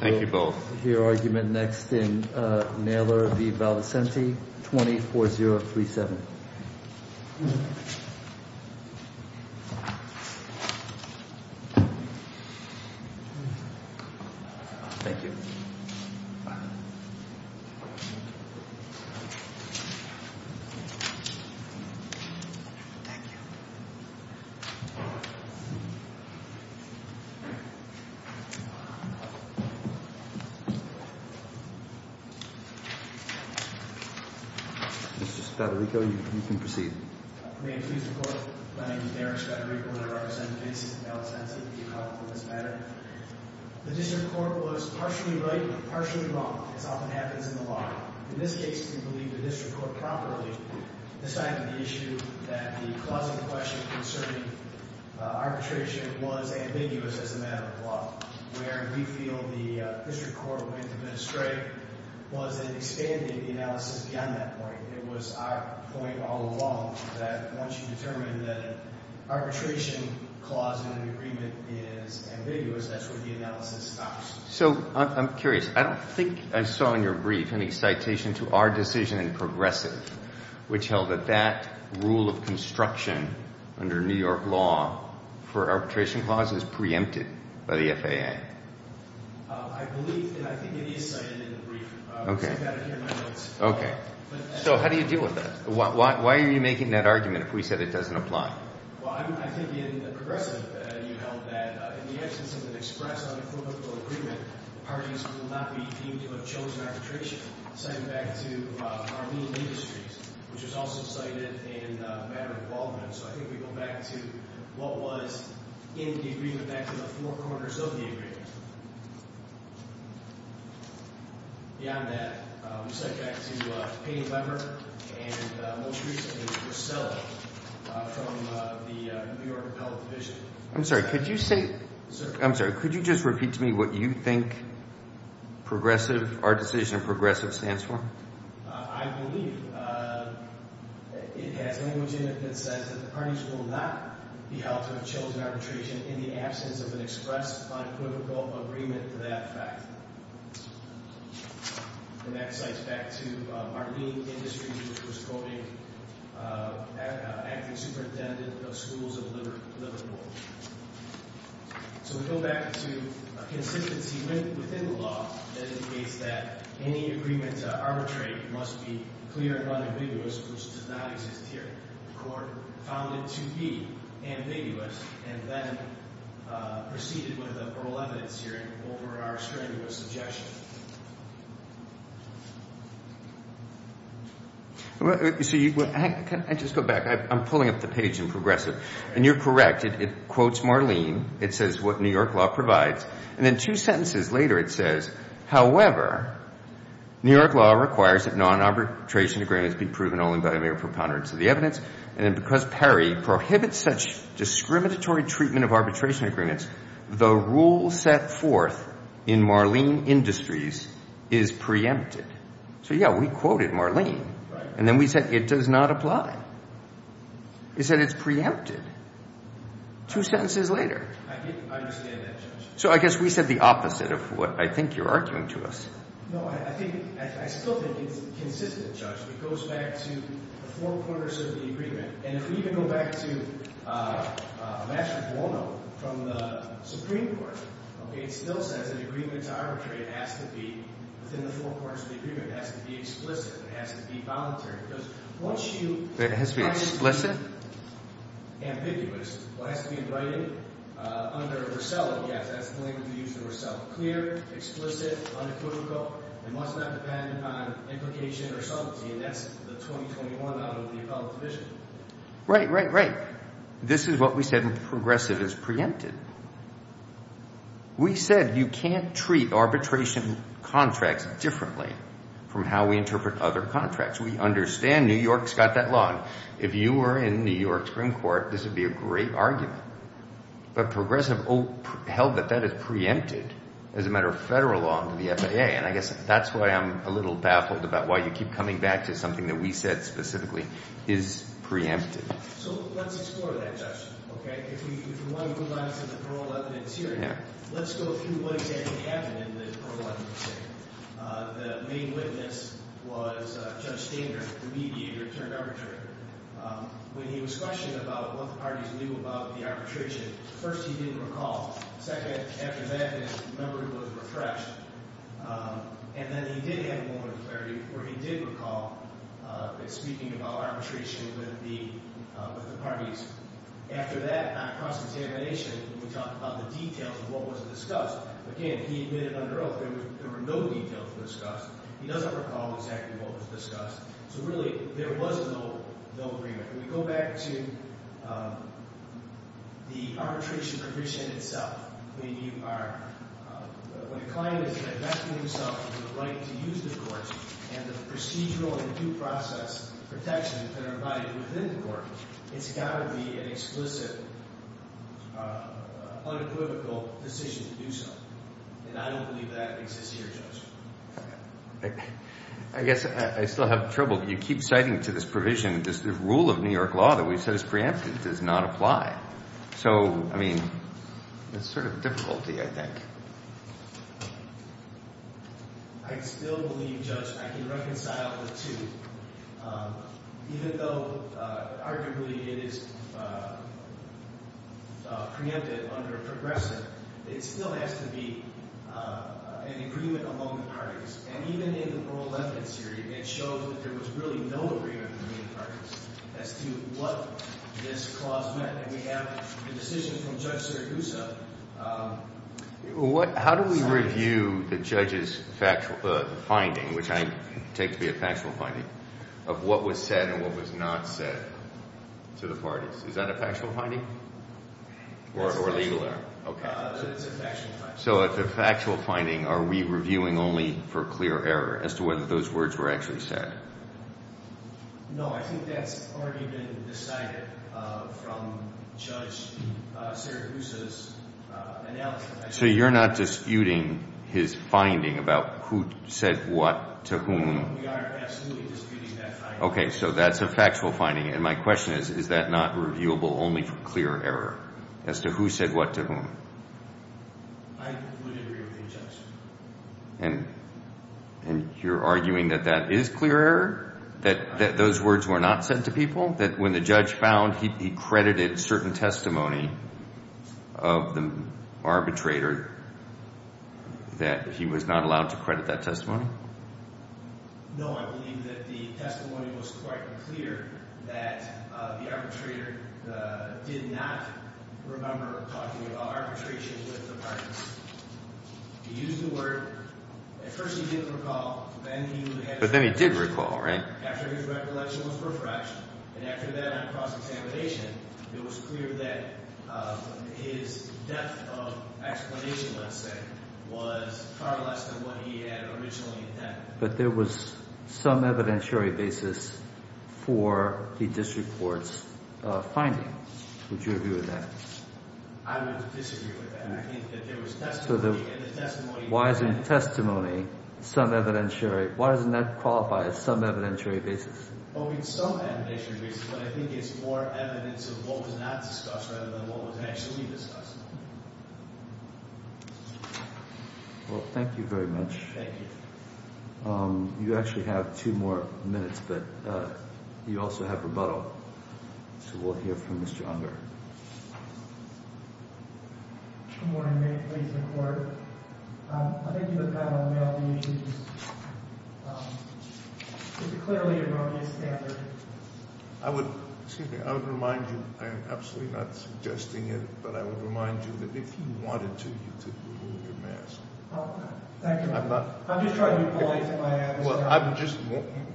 Thank you both. We will hear argument next in Naylor v. Valicenti, 20-4037. Thank you. Thank you. Thank you. Mr. Spadarico, you can proceed. May it please the Court. My name is Derrick Spadarico and I represent Vincent v. Valicenti. Thank you, Your Honor, for this matter. The district court was partially right and partially wrong, as often happens in the law. In this case, we believe the district court properly decided the issue that the closing question concerning arbitration was ambiguous as a matter of law, where we feel the district court went a bit astray was in expanding the analysis beyond that point. It was our point all along that once you determine that an arbitration clause in an agreement is ambiguous, that's when the analysis stops. So I'm curious. I don't think I saw in your brief any citation to our decision in Progressive, which held that that rule of construction under New York law for arbitration clauses is preempted by the FAA. I believe and I think it is cited in the brief. Okay. Okay. So how do you deal with that? Why are you making that argument if we said it doesn't apply? Well, I think in Progressive you held that in the absence of an express unequivocal agreement, parties will not be deemed to have chosen arbitration. Citing back to Armenian Industries, which was also cited in a matter of involvement. So I think we go back to what was in the agreement, back to the four corners of the agreement. Beyond that, we cite back to Payne, Weber, and most recently to Ursula from the New York Appellate Division. I'm sorry. Could you say – I'm sorry. Could you just repeat to me what you think Progressive – our decision in Progressive stands for? I believe it has language in it that says that the parties will not be held to have chosen arbitration in the absence of an express unequivocal agreement to that fact. And that cites back to Armenian Industries, which was quoting acting superintendent of schools of Liverpool. So we go back to a consistency within the law that indicates that any agreement to arbitrate must be clear and unambiguous, which does not exist here. The Court found it to be ambiguous and then proceeded with a parole evidence hearing over our strenuous objection. So you – can I just go back? I'm pulling up the page in Progressive. And you're correct. It quotes Marlene. It says what New York law provides. And then two sentences later it says, however, New York law requires that non-arbitration agreements be proven only by a mere preponderance of the evidence. And then because PERI prohibits such discriminatory treatment of arbitration agreements, the rule set forth in Marlene Industries is preempted. So yeah, we quoted Marlene. Right. And then we said it does not apply. It said it's preempted. Two sentences later. I understand that, Judge. So I guess we said the opposite of what I think you're arguing to us. No, I think – I still think it's consistent, Judge. It goes back to the four corners of the agreement. And if we even go back to Master Buono from the Supreme Court, okay, it still says an agreement to arbitrate has to be within the four corners of the agreement. It has to be explicit. It has to be voluntary. Because once you – It has to be explicit? Ambiguous. What has to be in writing under Rossello, yes, that's the language we use for Rossello. Clear, explicit, unequivocal. It must not depend on implication or subtlety. And that's the 2021 out of the appellate division. Right, right, right. This is what we said when Progressive is preempted. We said you can't treat arbitration contracts differently from how we interpret other contracts. We understand New York's got that law. If you were in New York's Supreme Court, this would be a great argument. But Progressive held that that is preempted as a matter of federal law under the FAA. And I guess that's why I'm a little baffled about why you keep coming back to something that we said specifically is preempted. So let's explore that, Judge. Okay? If you want to move on to the parole evidence here, let's go through what exactly happened in the parole evidence. The main witness was Judge Stanger, the mediator-turned-arbitrator. When he was questioned about what the parties knew about the arbitration, first he didn't recall. Second, after that, his memory was refreshed. And then he did have a moment of clarity where he did recall speaking about arbitration with the parties. After that, on cross-examination, we talked about the details of what was discussed. Again, he admitted under oath there were no details discussed. He doesn't recall exactly what was discussed. So, really, there was no agreement. When we go back to the arbitration provision itself, when a client is directing himself to the right to use the court and the procedural and due process protections that are provided within the court, it's got to be an explicit, unequivocal decision to do so. And I don't believe that exists here, Judge. I guess I still have trouble. You keep citing to this provision the rule of New York law that we've said is preemptive. It does not apply. So, I mean, it's sort of a difficulty, I think. I still believe, Judge, I can reconcile the two. Even though arguably it is preemptive under progressive, it still has to be an agreement among the parties. And even in the oral evidence here, it shows that there was really no agreement among the parties as to what this clause meant. And we have the decision from Judge Sergusa. How do we review the judge's finding, which I take to be a factual finding, of what was said and what was not said to the parties? Is that a factual finding or legal? It's a factual finding. So it's a factual finding. Are we reviewing only for clear error as to whether those words were actually said? No, I think that's already been decided from Judge Sergusa's analysis. So you're not disputing his finding about who said what to whom? We are absolutely disputing that finding. Okay, so that's a factual finding. And my question is, is that not reviewable only for clear error as to who said what to whom? I would agree with the judge. And you're arguing that that is clear error, that those words were not said to people, that when the judge found he credited certain testimony of the arbitrator, that he was not allowed to credit that testimony? No, I believe that the testimony was quite clear that the arbitrator did not remember talking about arbitration with the parties. He used the word. At first he didn't recall. But then he did recall, right? After his recollection was refreshed and after that cross-examination, it was clear that his depth of explanation, let's say, was far less than what he had originally intended. But there was some evidentiary basis for the district court's finding. Would you agree with that? I would disagree with that. I think that there was testimony, and the testimony was evidentiary. Why isn't testimony some evidentiary? Why doesn't that qualify as some evidentiary basis? Well, it's some evidentiary basis, but I think it's more evidence of what was not discussed rather than what was actually discussed. Well, thank you very much. Thank you. You actually have two more minutes, but you also have rebuttal, so we'll hear from Mr. Unger. Good morning. May it please the Court? I think you look kind of unwell to me. It's a clearly erroneous standard. Excuse me, I would remind you, I am absolutely not suggesting it, but I would remind you that if you wanted to, you could remove your mask. Thank you. I'm just trying to be polite in my answer. Well, I'm just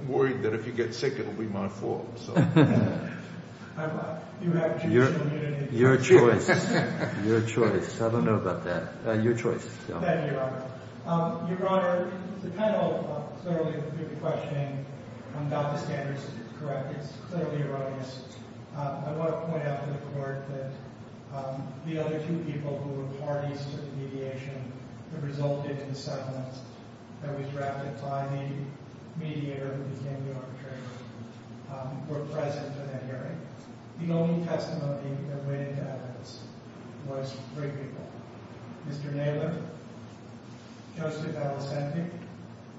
worried that if you get sick, it'll be my fault. You have judicial immunity. Your choice. Your choice. I don't know about that. Your choice. Thank you, Your Honor. Your Honor, the panel clearly, through the questioning, got the standards correct. It's clearly erroneous. I want to point out to the Court that the other two people who were parties to the mediation that resulted in the settlement that was drafted by the mediator who became the arbitrator were present in that hearing. The only testimony that went into evidence was three people. Mr. Naylor, Justice Alicente,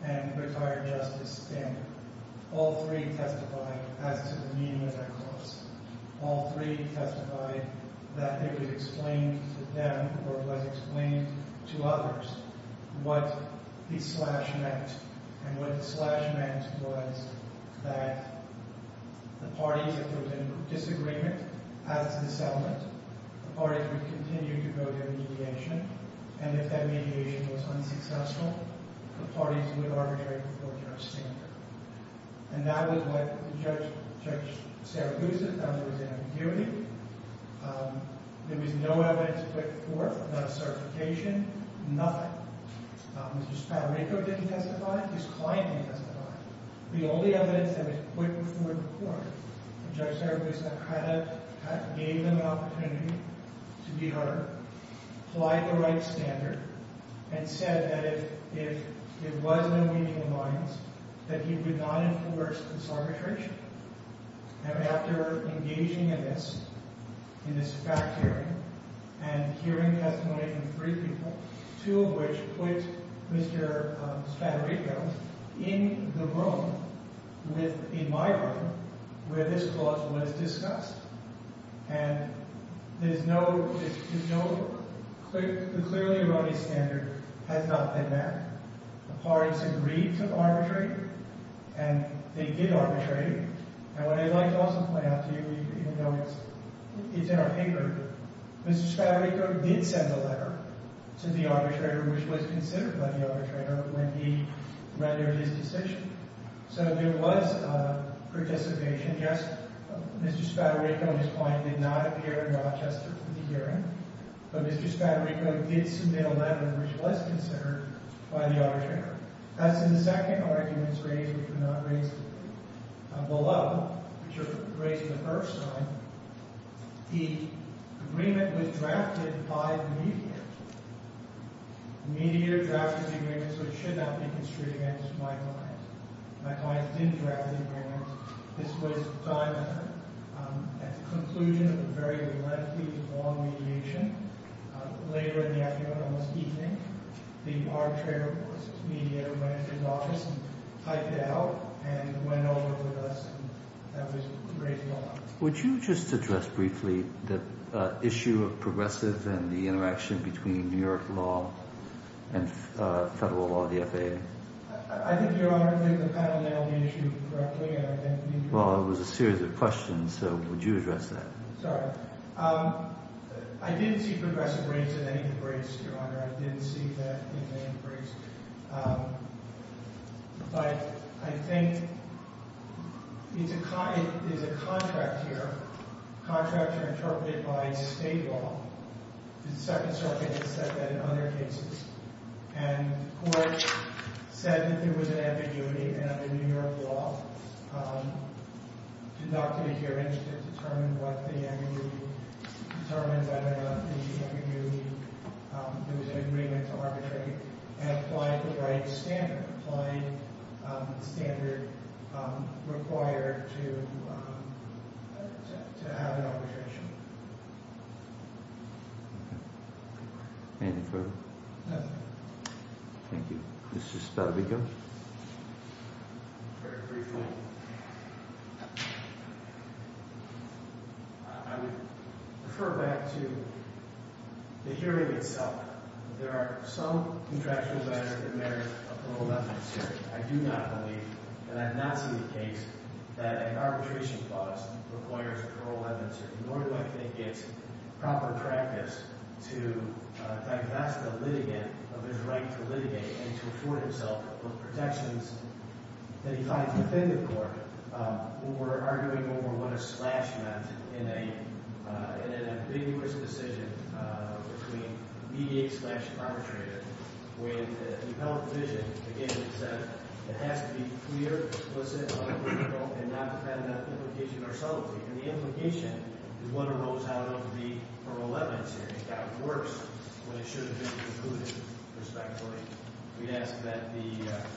and Retired Justice Stanton. All three testified as to the meaning of that clause. All three testified that it was explained to them or was explained to others what the slash meant. And what the slash meant was that the parties, if there was a disagreement as to the settlement, the parties would continue to go to mediation. And if that mediation was unsuccessful, the parties would arbitrate before Judge Stanton. And that was what Judge Seragusa found was an ambiguity. There was no evidence put forth about certification. Nothing. Mr. Spadarico didn't testify. His client didn't testify. The only evidence that was put forth before Judge Seragusa kind of gave them an opportunity to be heard, applied the right standard, and said that if it was an unmeaning alliance, that he would not enforce consolidation. And after engaging in this, in this fact-hearing, and hearing testimony from three people, two of which put Mr. Spadarico in the room, in my room, where this clause was discussed. And there's no, there's no, the clearly erroneous standard has not been met. The parties agreed to arbitrate, and they did arbitrate. And what I'd like to also point out to you, even though it's in our paper, Mr. Spadarico did send a letter to the arbitrator, which was considered by the arbitrator, when he rendered his decision. So there was participation. Yes, Mr. Spadarico and his client did not appear in Rochester for the hearing, but Mr. Spadarico did submit a letter, which was considered by the arbitrator. As in the second arguments raised, which were not raised below, which are raised in the first time, the agreement was drafted by the mediator. The mediator drafted the agreement, so it should not be construed against my client. My client didn't draft the agreement. This was a time effort. At the conclusion of a very lengthy, long mediation, later in the afternoon, almost evening, the arbitrator, the mediator, went into his office and typed it out and went over with us, and that was raised below. Would you just address briefly the issue of progressive and the interaction between New York law and federal law, the FAA? I think, Your Honor, I think the panel nailed the issue correctly. Well, it was a series of questions, so would you address that? Sorry. I didn't see progressive rates in any of the briefs, Your Honor. I didn't see that in any of the briefs. But I think it's a contract here. Contracts are interpreted by state law. The Second Circuit has said that in other cases. And the court said that there was an ambiguity in the New York law. Did Dr. McEwish determine what the ambiguity was? Determined whether the ambiguity was an agreement to arbitrate? And applied the right standard. Applied the standard required to have an arbitration. Okay. Anything further? Nothing. Thank you. Mr. Spadavico? Very briefly, I would refer back to the hearing itself. There are some contractual matters that merit a parole evidence hearing. I do not believe, and I have not seen the case, that an arbitration clause requires a parole evidence hearing. Nor do I think it's proper practice to divest the litigant of his right to litigate and to afford himself protections that he finds within the court. We're arguing over what a slash meant in an ambiguous decision between mediate slash arbitrate it. With the appellate division, again, it said it has to be clear, explicit, unambiguous, and not have that implication or subtlety. And the implication is what arose out of the parole evidence hearing. It got worse when it should have been concluded, respectively. We ask that the...